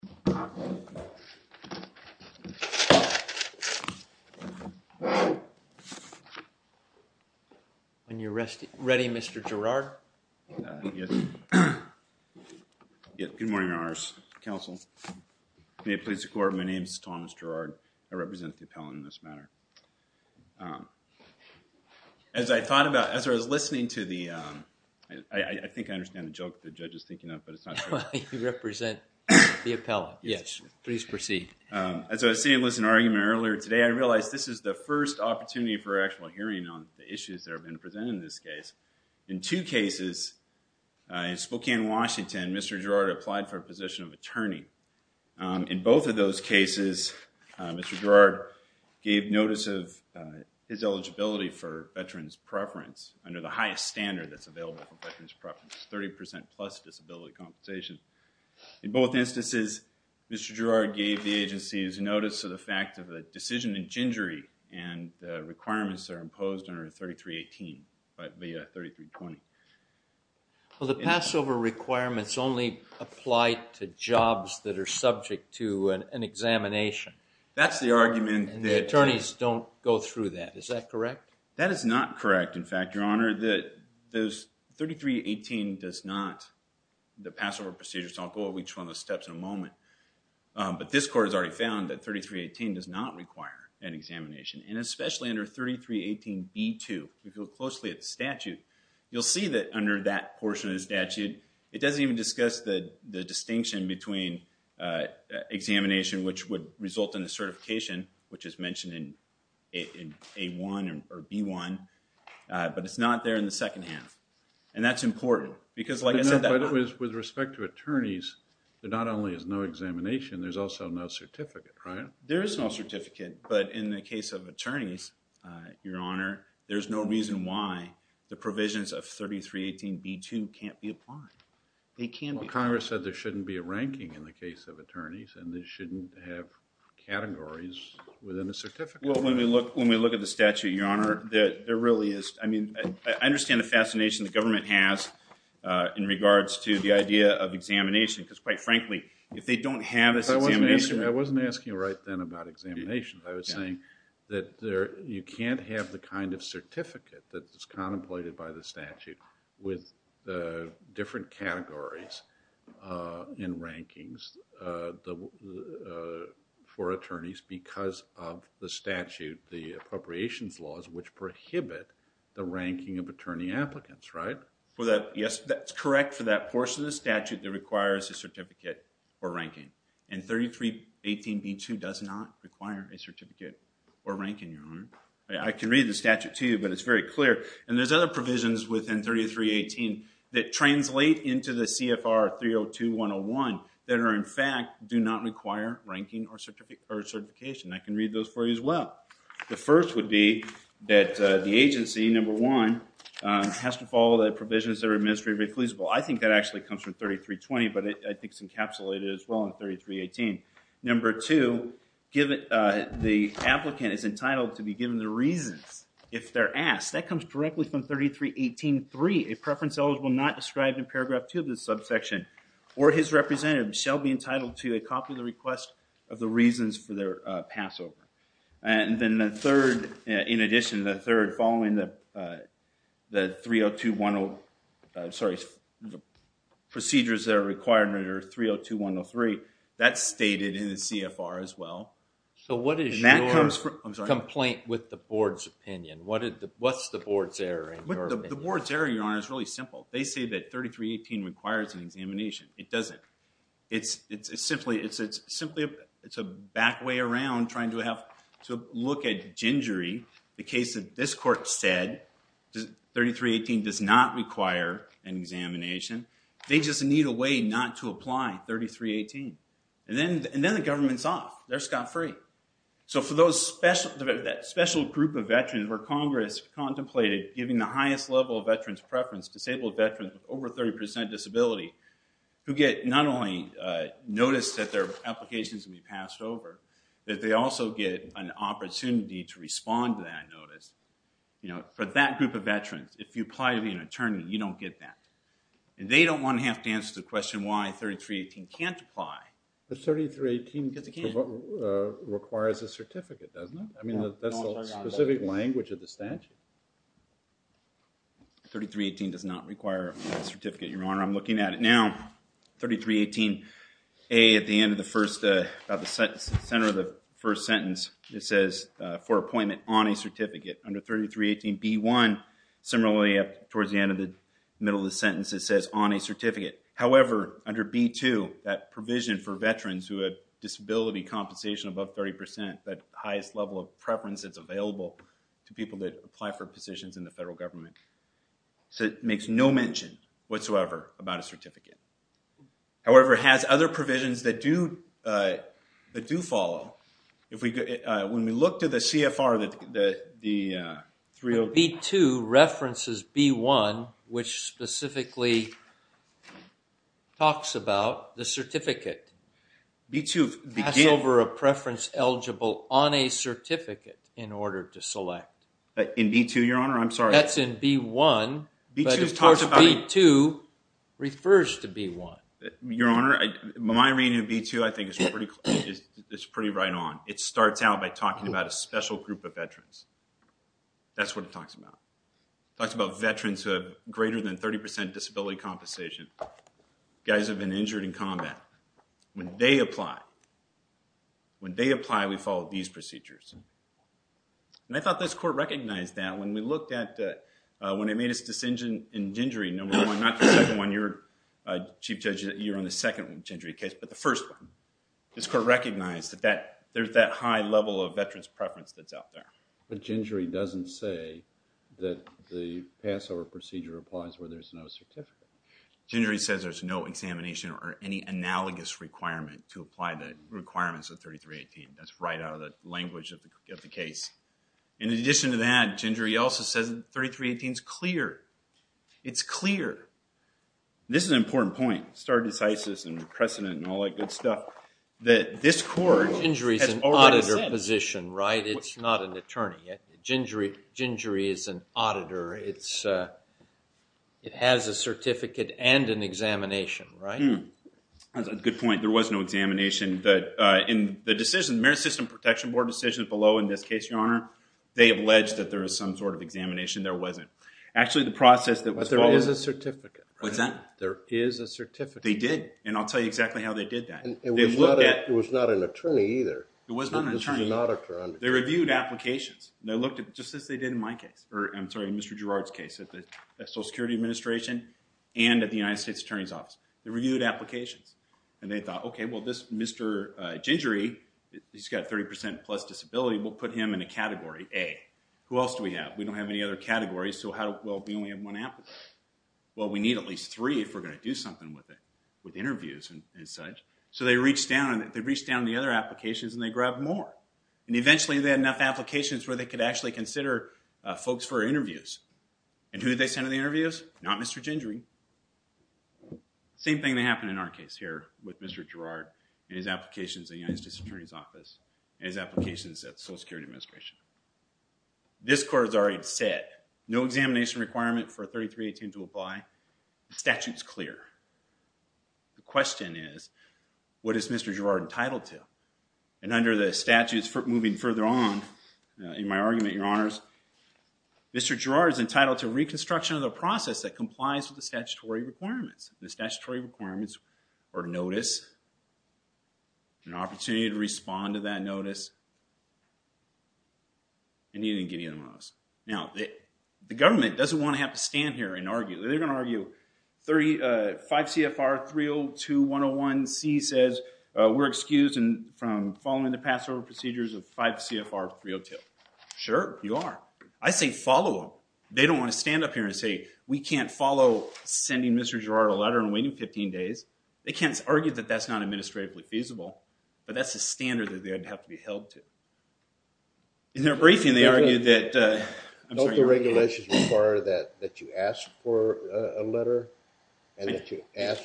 When you're ready, Mr. Jarrard. Good morning, Your Honors, counsel, may it please the Court, my name is Thomas Jarrard, I represent the appellant in this matter. As I thought about, as I was listening to the, I think I understand the joke the judge is thinking of, but it's not true. You represent the appellant, yes, please proceed. As I was saying in an argument earlier today, I realized this is the first opportunity for actual hearing on the issues that have been presented in this case. In two cases, in Spokane, Washington, Mr. Jarrard applied for a position of attorney. In both of those cases, Mr. Jarrard gave notice of his eligibility for veterans preference under the highest standard that's available for veterans preference, 30% plus disability compensation. In both instances, Mr. Jarrard gave the agency's notice of the fact of a decision in gingery and the requirements are imposed under 3318, via 3320. Well, the Passover requirements only apply to jobs that are subject to an examination. That's the argument. And the attorneys don't go through that, is that correct? That is not correct. In fact, your honor, that those 3318 does not, the Passover procedures, I'll go over each one of those steps in a moment, but this court has already found that 3318 does not require an examination and especially under 3318B2, if you look closely at the statute, you'll see that under that portion of the statute, it doesn't even discuss the distinction between examination, which would result in a certification, which is mentioned in A1 or B1, but it's not there in the second half. And that's important because like I said, with respect to attorneys, there not only is no examination, there's also no certificate, right? There is no certificate, but in the case of attorneys, your honor, there's no reason why the provisions of 3318B2 can't be applied. They can be applied. Well, Congress said there shouldn't be a ranking in the case of attorneys and they shouldn't have categories within a certificate. Well, when we look at the statute, your honor, there really is, I mean, I understand the fascination the government has in regards to the idea of examination because quite frankly, if they don't have this examination. I wasn't asking right then about examination, I was saying that you can't have the kind of certificate that is contemplated by the statute with the different categories in rankings for attorneys because of the statute, the appropriations laws, which prohibit the ranking of attorney applicants, right? Yes, that's correct for that portion of the statute that requires a certificate or ranking. And 3318B2 does not require a certificate or ranking, your honor. I can read the statute to you, but it's very clear. And there's other provisions within 3318 that translate into the CFR 302.101 that are in fact do not require ranking or certification. I can read those for you as well. The first would be that the agency, number one, has to follow the provisions that are administratively reclusable. I think that actually comes from 3320, but I think it's encapsulated as well in 3318. Number two, the applicant is entitled to be given the reasons if they're asked. That comes directly from 3318.3, a preference eligible not described in paragraph two of this subsection, or his representative shall be entitled to a copy of the request of the reasons for their pass over. And then the third, in addition to the third, following the 302.10, sorry, the procedures that are required under 302.103, that's stated in the CFR as well. So what is your complaint with the board's opinion? What's the board's error in your opinion? The board's error, Your Honor, is really simple. They say that 3318 requires an examination. It doesn't. It's simply a back way around trying to look at gingery. The case that this court said, 3318 does not require an examination. They just need a way not to apply 3318. And then the government's off. They're scot-free. So for that special group of veterans where Congress contemplated giving the highest level of veterans preference, disabled veterans with over 30% disability, who get not only notice that their applications will be passed over, that they also get an opportunity to respond to that notice. For that group of veterans, if you apply to be an attorney, you don't get that. And they don't want to have to answer the question why 3318 can't apply. But 3318 requires a certificate, doesn't it? I mean, that's the specific language of the statute. 3318 does not require a certificate, Your Honor. I'm looking at it now. 3318A, at the end of the first, center of the first sentence, it says, for appointment on a certificate. Under 3318B1, similarly, towards the end of the middle of the sentence, it says, on a certificate. However, under B2, that provision for veterans who had disability compensation above 30%, that highest level of preference that's available to people that apply for positions in the federal government, it makes no mention whatsoever about a certificate. However, it has other provisions that do follow. When we look to the CFR, the 308- B2 references B1, which specifically talks about the certificate. B2 begins- Pass over a preference eligible on a certificate in order to select. In B2, Your Honor? I'm sorry. That's in B1. B2 talks about- But of course, B2 refers to B1. Your Honor, my reading of B2, I think, is pretty right on. It starts out by talking about a special group of veterans. That's what it talks about. It talks about veterans who have greater than 30% disability compensation. Guys have been injured in combat. When they apply, we follow these procedures. And I thought this court recognized that when we looked at- Not the second one. You're a chief judge. You're on the second Gingery case, but the first one. This court recognized that there's that high level of veterans preference that's out there. But Gingery doesn't say that the pass over procedure applies where there's no certificate. Gingery says there's no examination or any analogous requirement to apply the requirements of 3318. That's right out of the language of the case. In addition to that, Gingery also says 3318 is clear. It's clear. This is an important point. Stardesizes and precedent and all that good stuff. That this court- Gingery's an auditor position, right? It's not an attorney. Gingery is an auditor. It has a certificate and an examination, right? That's a good point. There was no examination. In the decision, the Merit System Protection Board decision below in this case, Your Honor, they alleged that there was some sort of examination. There wasn't. Actually, the process that was- But there is a certificate. What's that? There is a certificate. They did. And I'll tell you exactly how they did that. It was not an attorney either. It was not an attorney. They reviewed applications. They looked at just as they did in my case, or I'm sorry, in Mr. Girard's case at the Social Security Administration and at the United States Attorney's Office. They reviewed applications. And they thought, okay, well, this Mr. Gingery, he's got 30% plus disability. We'll put him in a category A. Who else do we have? We don't have any other categories. Well, we only have one applicant. Well, we need at least three if we're going to do something with it, with interviews and such. So they reached down, and they reached down to the other applications, and they grabbed more. And eventually, they had enough applications where they could actually consider folks for interviews. And who did they send to the interviews? Not Mr. Gingery. Same thing that happened in our case here with Mr. Girard and his applications at the United States Attorney's Office and his applications at the Social Security Administration. This court has already said, no examination requirement for 3318 to apply. The statute's clear. The question is, what is Mr. Girard entitled to? And under the statutes moving further on in my argument, Your Honors, Mr. Girard is entitled to reconstruction of the process that complies with the statutory requirements. The statutory requirements are notice, an opportunity to respond to that notice, and he didn't give you the notice. Now, the government doesn't want to have to stand here and argue. They're going to argue, 5 CFR 302-101-C says, we're excused from following the Passover procedures of 5 CFR 302. Sure, you are. I say, follow them. They don't want to stand up here and say, we can't follow sending Mr. Girard a letter and waiting 15 days. They can't argue that that's not administratively feasible. But that's the standard that they'd have to be held to. In their briefing, they argued that, I'm sorry, you're on mute. Don't the regulations require that you ask for a letter and that you ask,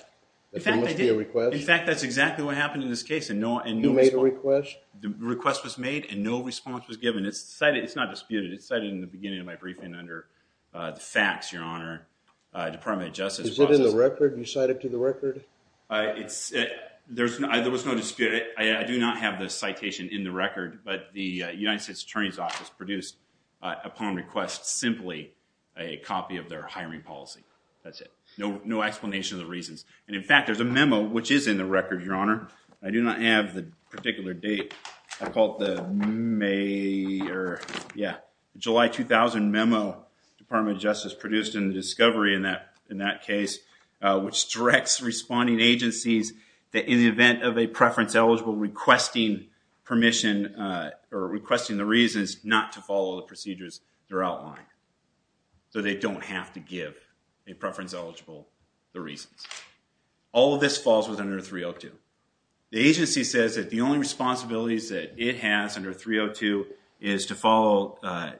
that there must be a request? In fact, that's exactly what happened in this case. And no, and you made a request? The request was made and no response was given. It's cited, it's not disputed. It's cited in the beginning of my briefing under the facts, Your Honor, Department of Justice process. Is it in the record? You cite it to the record? It's, there was no dispute. I do not have the citation in the record. But the United States Attorney's Office produced, upon request, simply a copy of their hiring policy. That's it. No explanation of the reasons. And in fact, there's a memo, which is in the record, Your Honor. I do not have the particular date. I call it the May, or yeah, July 2000 memo, Department of Justice produced in the discovery in that case, which directs responding agencies that in the event of a preference eligible requesting permission or requesting the reasons not to follow the procedures they're outlining. So they don't have to give a preference eligible the reasons. All of this falls within under 302. The agency says that the only responsibilities that it has under 302 is to follow,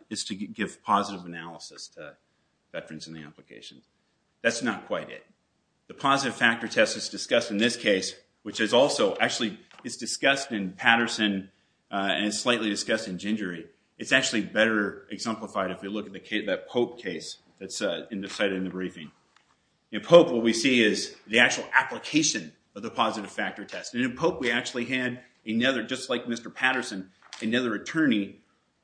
is to give positive analysis to veterans in the application. That's not quite it. The positive factor test is discussed in this case, which is also, actually, it's discussed in Patterson and slightly discussed in Gingery. It's actually better exemplified if you look at that Pope case that's cited in the briefing. In Pope, what we see is the actual application of the positive factor test. And in Pope, we actually had another, just like Mr. Patterson, another attorney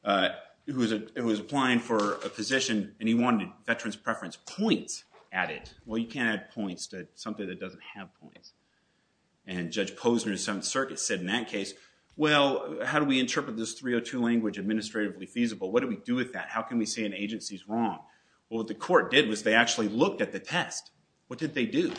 who was applying for a position and he wanted veterans preference points added. Well, you can't add points to something that doesn't have points. And Judge Posner in Seventh Circuit said in that case, well, how do we interpret this 302 language administratively feasible? What do we do with that? How can we say an agency's wrong? Well, what the court did was they actually looked at the test. What did they do?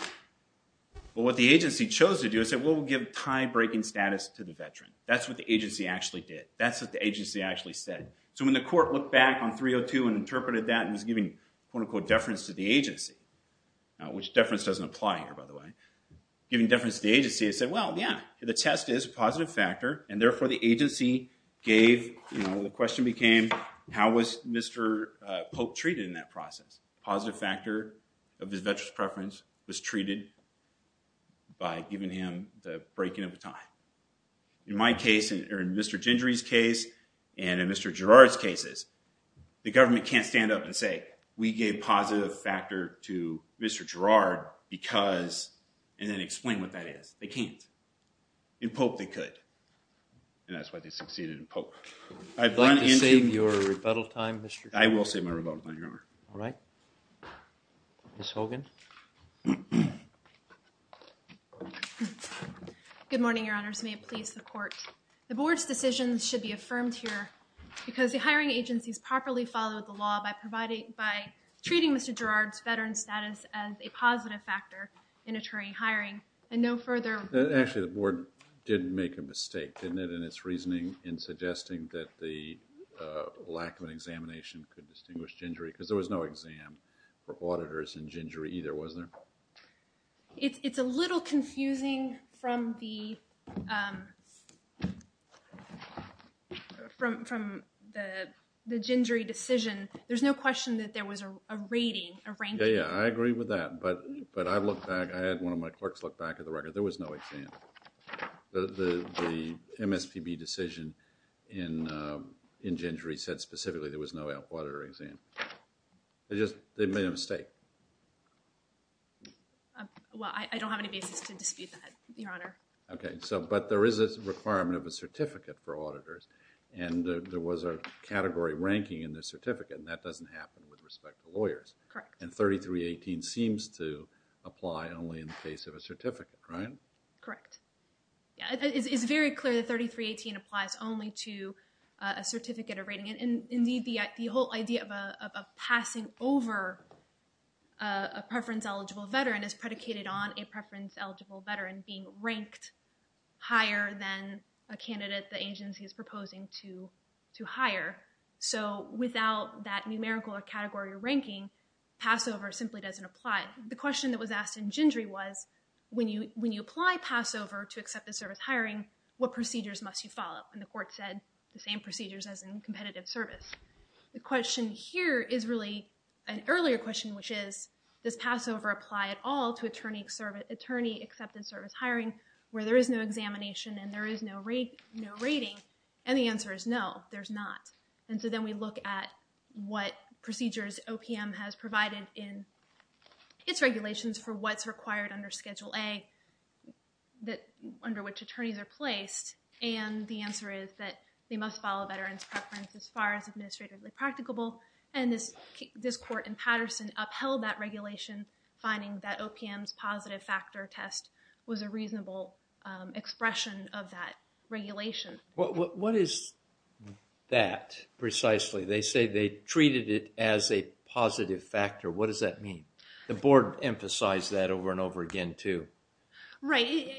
Well, what the agency chose to do is say, well, we'll give tie-breaking status to the veteran. That's what the agency actually did. That's what the agency actually said. So when the court looked back on 302 and interpreted that and was giving, quote, unquote, deference to the agency, which deference doesn't apply here, by the way, giving deference to the agency, it said, well, yeah, the test is a positive factor. And therefore, the agency gave, you know, the question became, how was Mr. Pope treated in that process? Positive factor of his veteran's preference was treated by giving him the breaking of a tie. In my case, or in Mr. Gingery's case, and in Mr. Girard's cases, the government can't stand up and say, we gave positive factor to Mr. Girard because, and then explain what that is. They can't. In Pope, they could. And that's why they succeeded in Pope. I'd like to save your rebuttal time, Mr. Girard. I will save my rebuttal time, Your Honor. All right. Ms. Hogan. Good morning, Your Honors. May it please the Court. The Board's decisions should be affirmed here because the hiring agency's properly followed the law by providing, by treating Mr. Girard's veteran status as a positive factor in attorney hiring, and no further. Actually, the Board did make a mistake, didn't it, in its reasoning in suggesting that the lack of an examination could distinguish Gingery, because there was no exam for auditors in Gingery either, wasn't there? It's, it's a little confusing from the, um, from, from the, the Gingery decision. There's no question that there was a rating, a ranking. Yeah, yeah. I agree with that. But, but I've looked back, I had one of my clerks look back at the record. There was no exam. The, the, the MSPB decision in, um, in Gingery said specifically there was no auditor exam. They just, they made a mistake. Um, well, I, I don't have any basis to dispute that, Your Honor. Okay. So, but there is a requirement of a certificate for auditors, and there was a category ranking in the certificate, and that doesn't happen with respect to lawyers. Correct. And 3318 seems to apply only in the case of a certificate, right? Correct. Yeah, it's, it's very clear that 3318 applies only to, uh, a certificate of rating. Indeed, the, the whole idea of a, of a passing over, uh, a preference-eligible veteran is predicated on a preference-eligible veteran being ranked higher than a candidate the agency is proposing to, to hire. So, without that numerical or category ranking, Passover simply doesn't apply. The question that was asked in Gingery was, when you, when you apply Passover to accept the service hiring, what procedures must you follow? And the court said the same procedures as in competitive service. The question here is really an earlier question, which is, does Passover apply at all to attorney service, attorney-accepted service hiring, where there is no examination and there is no rate, no rating? And the answer is no, there's not. And so then we look at what procedures OPM has provided in its regulations for what's And the answer is that they must follow veterans' preference as far as administratively practicable. And this, this court in Patterson upheld that regulation, finding that OPM's positive factor test was a reasonable, um, expression of that regulation. What, what, what is that precisely? They say they treated it as a positive factor. What does that mean? The board emphasized that over and over again too. Right.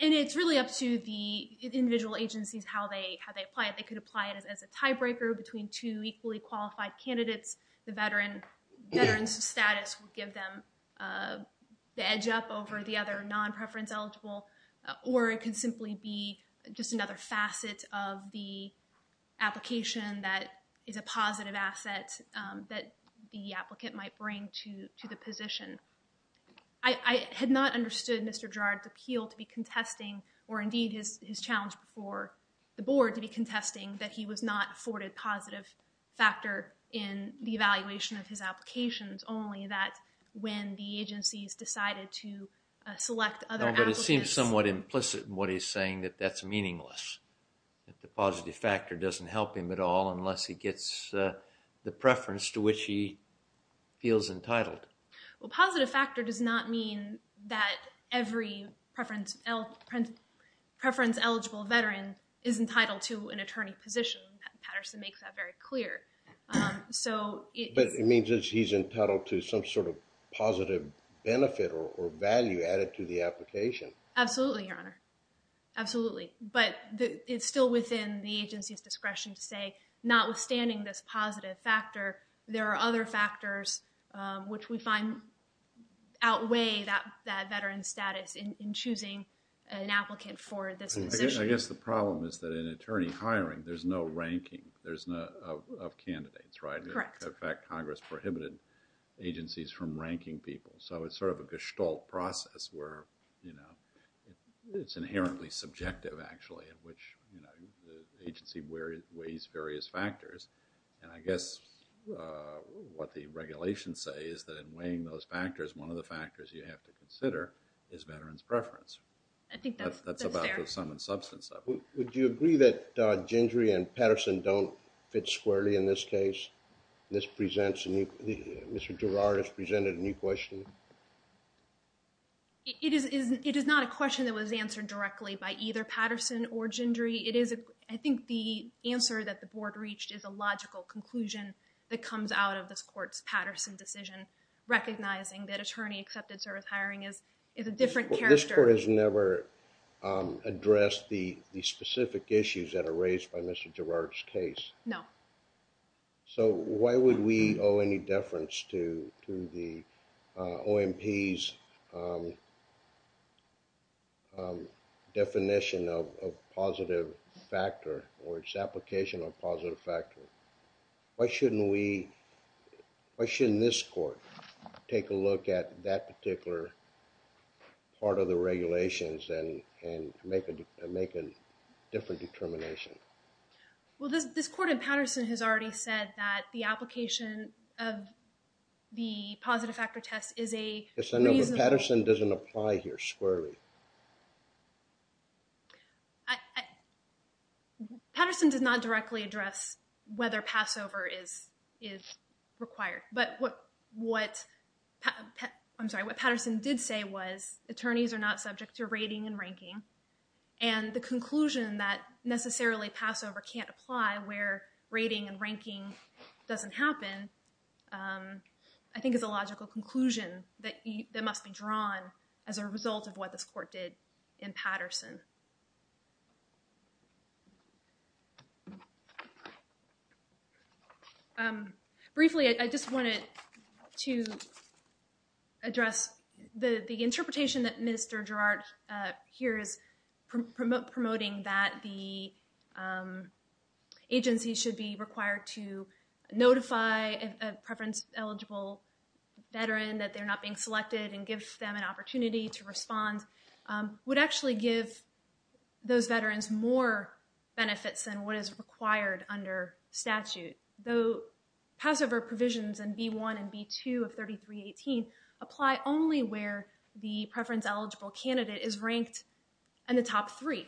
And it's really up to the individual agencies, how they, how they apply it. They could apply it as a tiebreaker between two equally qualified candidates. The veteran, veteran's status would give them, uh, the edge up over the other non-preference eligible, or it could simply be just another facet of the application that is a positive asset, um, that the applicant might bring to, to the position. I, I had not understood Mr. Girard's appeal to be contesting, or indeed his, his challenge before the board to be contesting that he was not afforded positive factor in the evaluation of his applications, only that when the agencies decided to, uh, select other applicants. No, but it seems somewhat implicit in what he's saying that that's meaningless. That the positive factor doesn't help him at all unless he gets, uh, the preference to which he feels entitled. Well, positive factor does not mean that every preference, preference eligible veteran is entitled to an attorney position. Patterson makes that very clear. So it... But it means that he's entitled to some sort of positive benefit or value added to the application. Absolutely, Your Honor. Absolutely. But the, it's still within the agency's discretion to say notwithstanding this positive factor, there are other factors, um, which we find outweigh that, that veteran status in, in choosing an applicant for this position. I guess the problem is that in attorney hiring, there's no ranking. There's no, of, of candidates, right? Correct. In fact, Congress prohibited agencies from ranking people. So it's sort of a gestalt process where, you know, it's inherently subjective actually in which, you know, the agency where it weighs various factors. And I guess, uh, what the regulations say is that in weighing those factors, one of the factors you have to consider is veteran's preference. I think that's fair. That's about the sum and substance of it. Would you agree that, uh, Gingery and Patterson don't fit squarely in this case? This presents a new, Mr. Girard has presented a new question. It is, it is not a question that was answered directly by either Patterson or Gingery. It is a, I think the answer that the board reached is a logical conclusion that comes out of this court's Patterson decision, recognizing that attorney accepted service hiring is, is a different character. This court has never, um, addressed the, the specific issues that are raised by Mr. Girard's case. No. So, why would we owe any deference to, to the, uh, OMP's, um, um, definition of, of positive factor or its application of positive factor? Why shouldn't we, why shouldn't this court take a look at that particular part of the regulations and, and make a, make a different determination? Well, this, this court in Patterson has already said that the application of the positive factor test is a reasonable... Yes, I know, but Patterson doesn't apply here squarely. I, I, Patterson did not directly address whether Passover is, is required. But what, what, I'm sorry, what Patterson did say was attorneys are not subject to rating and ranking and the conclusion that necessarily Passover can't apply where rating and ranking doesn't happen, um, I think is a logical conclusion that must be drawn as a result of what this court did in Patterson. Um, briefly, I, I just wanted to address the, the interpretation that Mr. Girard, uh, here is promoting that the, um, agency should be required to notify a preference eligible veteran that they're not being selected and give them an opportunity to respond, um, would actually give those veterans more benefits than what is required under statute. Though Passover provisions in B1 and B2 of 3318 apply only where the preference eligible candidate is ranked in the top three.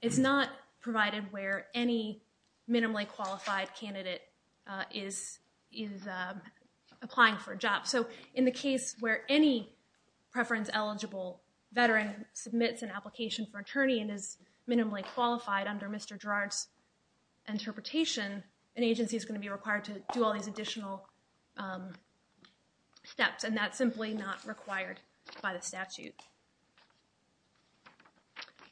It's not provided where any minimally qualified candidate, uh, is, is, uh, applying for a job. So in the case where any preference eligible veteran submits an application for attorney and is minimally qualified under Mr. Girard's interpretation, an agency is going to be required to do all these additional, um, steps and that's simply not required by the statute.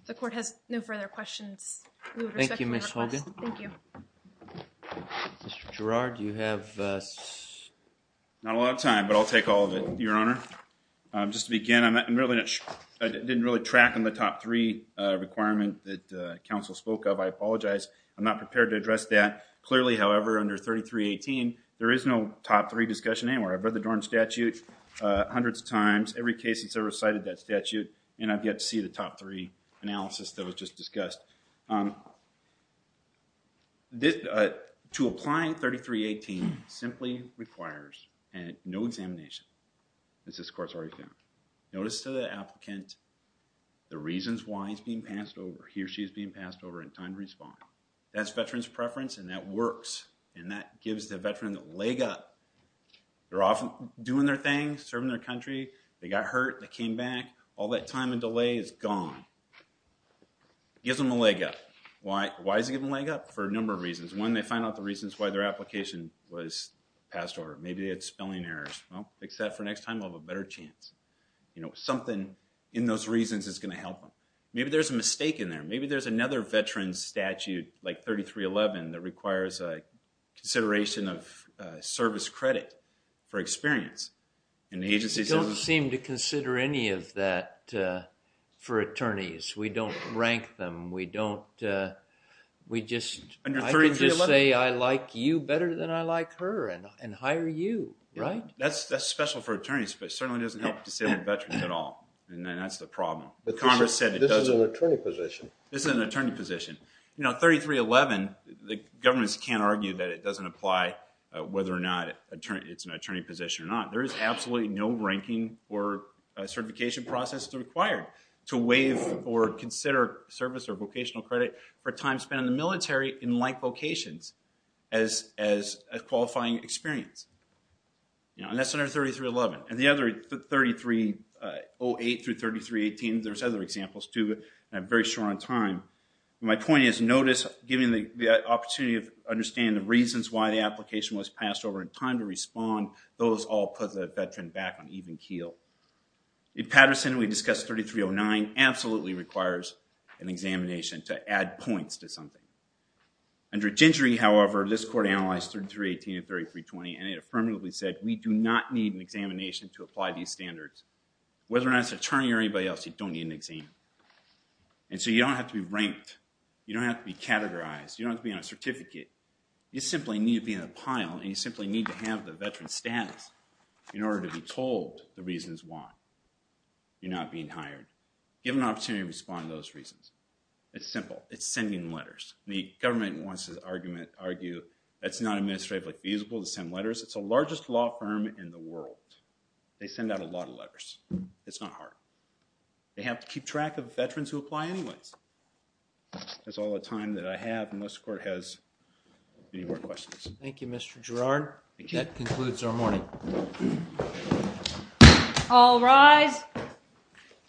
If the court has no further questions, we would respect your request. Thank you, Ms. Hogan. Thank you. Mr. Girard, do you have, uh, Not a lot of time, but I'll take all of it, Your Honor. Um, just to begin, I'm, I'm really not sure, I didn't really track on the top three, uh, requirement that, uh, counsel spoke of. I apologize. I'm not prepared to address that. Clearly, however, under 3318, there is no top three discussion anywhere. I've read the Dorn statute, uh, hundreds of times. Every case since I recited that statute and I've yet to see the top three analysis that was just discussed. Um, this, uh, to apply 3318 simply requires no examination. This is, of course, already found. Notice to the applicant the reasons why he's being passed over, he or she is being passed over in time to respond. That's veteran's preference and that works. And that gives the veteran the leg up. They're off doing their thing, serving their country. They got hurt. They came back. All that time and delay is gone. Gives them a leg up. Why, why does it give them a leg up? For a number of reasons. One, they find out the reasons why their application was passed over. Maybe they had spelling errors. Well, except for next time, they'll have a better chance. You know, something in those reasons is going to help them. Maybe there's a mistake in there. Maybe there's another veteran's statute like 3311 that requires a consideration of, uh, service credit for experience. And the agency doesn't seem to consider any of that, uh, for attorneys. We don't rank them. We don't, uh, we just, I can just say I like you better than I like her and, and hire you, right? That's, that's special for attorneys, but certainly doesn't help disabled veterans at all. And then that's the problem. But Congress said it doesn't. This is an attorney position. This is an attorney position. You know, 3311, the governments can't argue that it doesn't apply whether or not attorney, it's an attorney position or not. Absolutely no ranking or certification process is required to waive or consider service or vocational credit for time spent in the military in like locations as, as a qualifying experience. You know, and that's under 3311. And the other 3308 through 3318, there's other examples too, but I'm very short on time. My point is notice, giving the opportunity of understanding the reasons why the application was passed over in time to respond. Those all put the veteran back on even keel. In Patterson, we discussed 3309 absolutely requires an examination to add points to something. Under Gingery, however, this court analyzed 3318 and 3320 and it affirmatively said, we do not need an examination to apply these standards. Whether or not it's an attorney or anybody else, you don't need an exam. And so you don't have to be ranked. You don't have to be categorized. You don't have to be on a certificate. You simply need to be in a pile and you simply need to have the veteran status in order to be told the reasons why you're not being hired. Give an opportunity to respond to those reasons. It's simple. It's sending letters. The government wants to argue that's not administratively feasible to send letters. It's the largest law firm in the world. They send out a lot of letters. It's not hard. They have to keep track of veterans who apply anyways. That's all the time that I have unless the court has any more questions. Thank you, Mr. Girard. Thank you. That concludes our morning. All rise.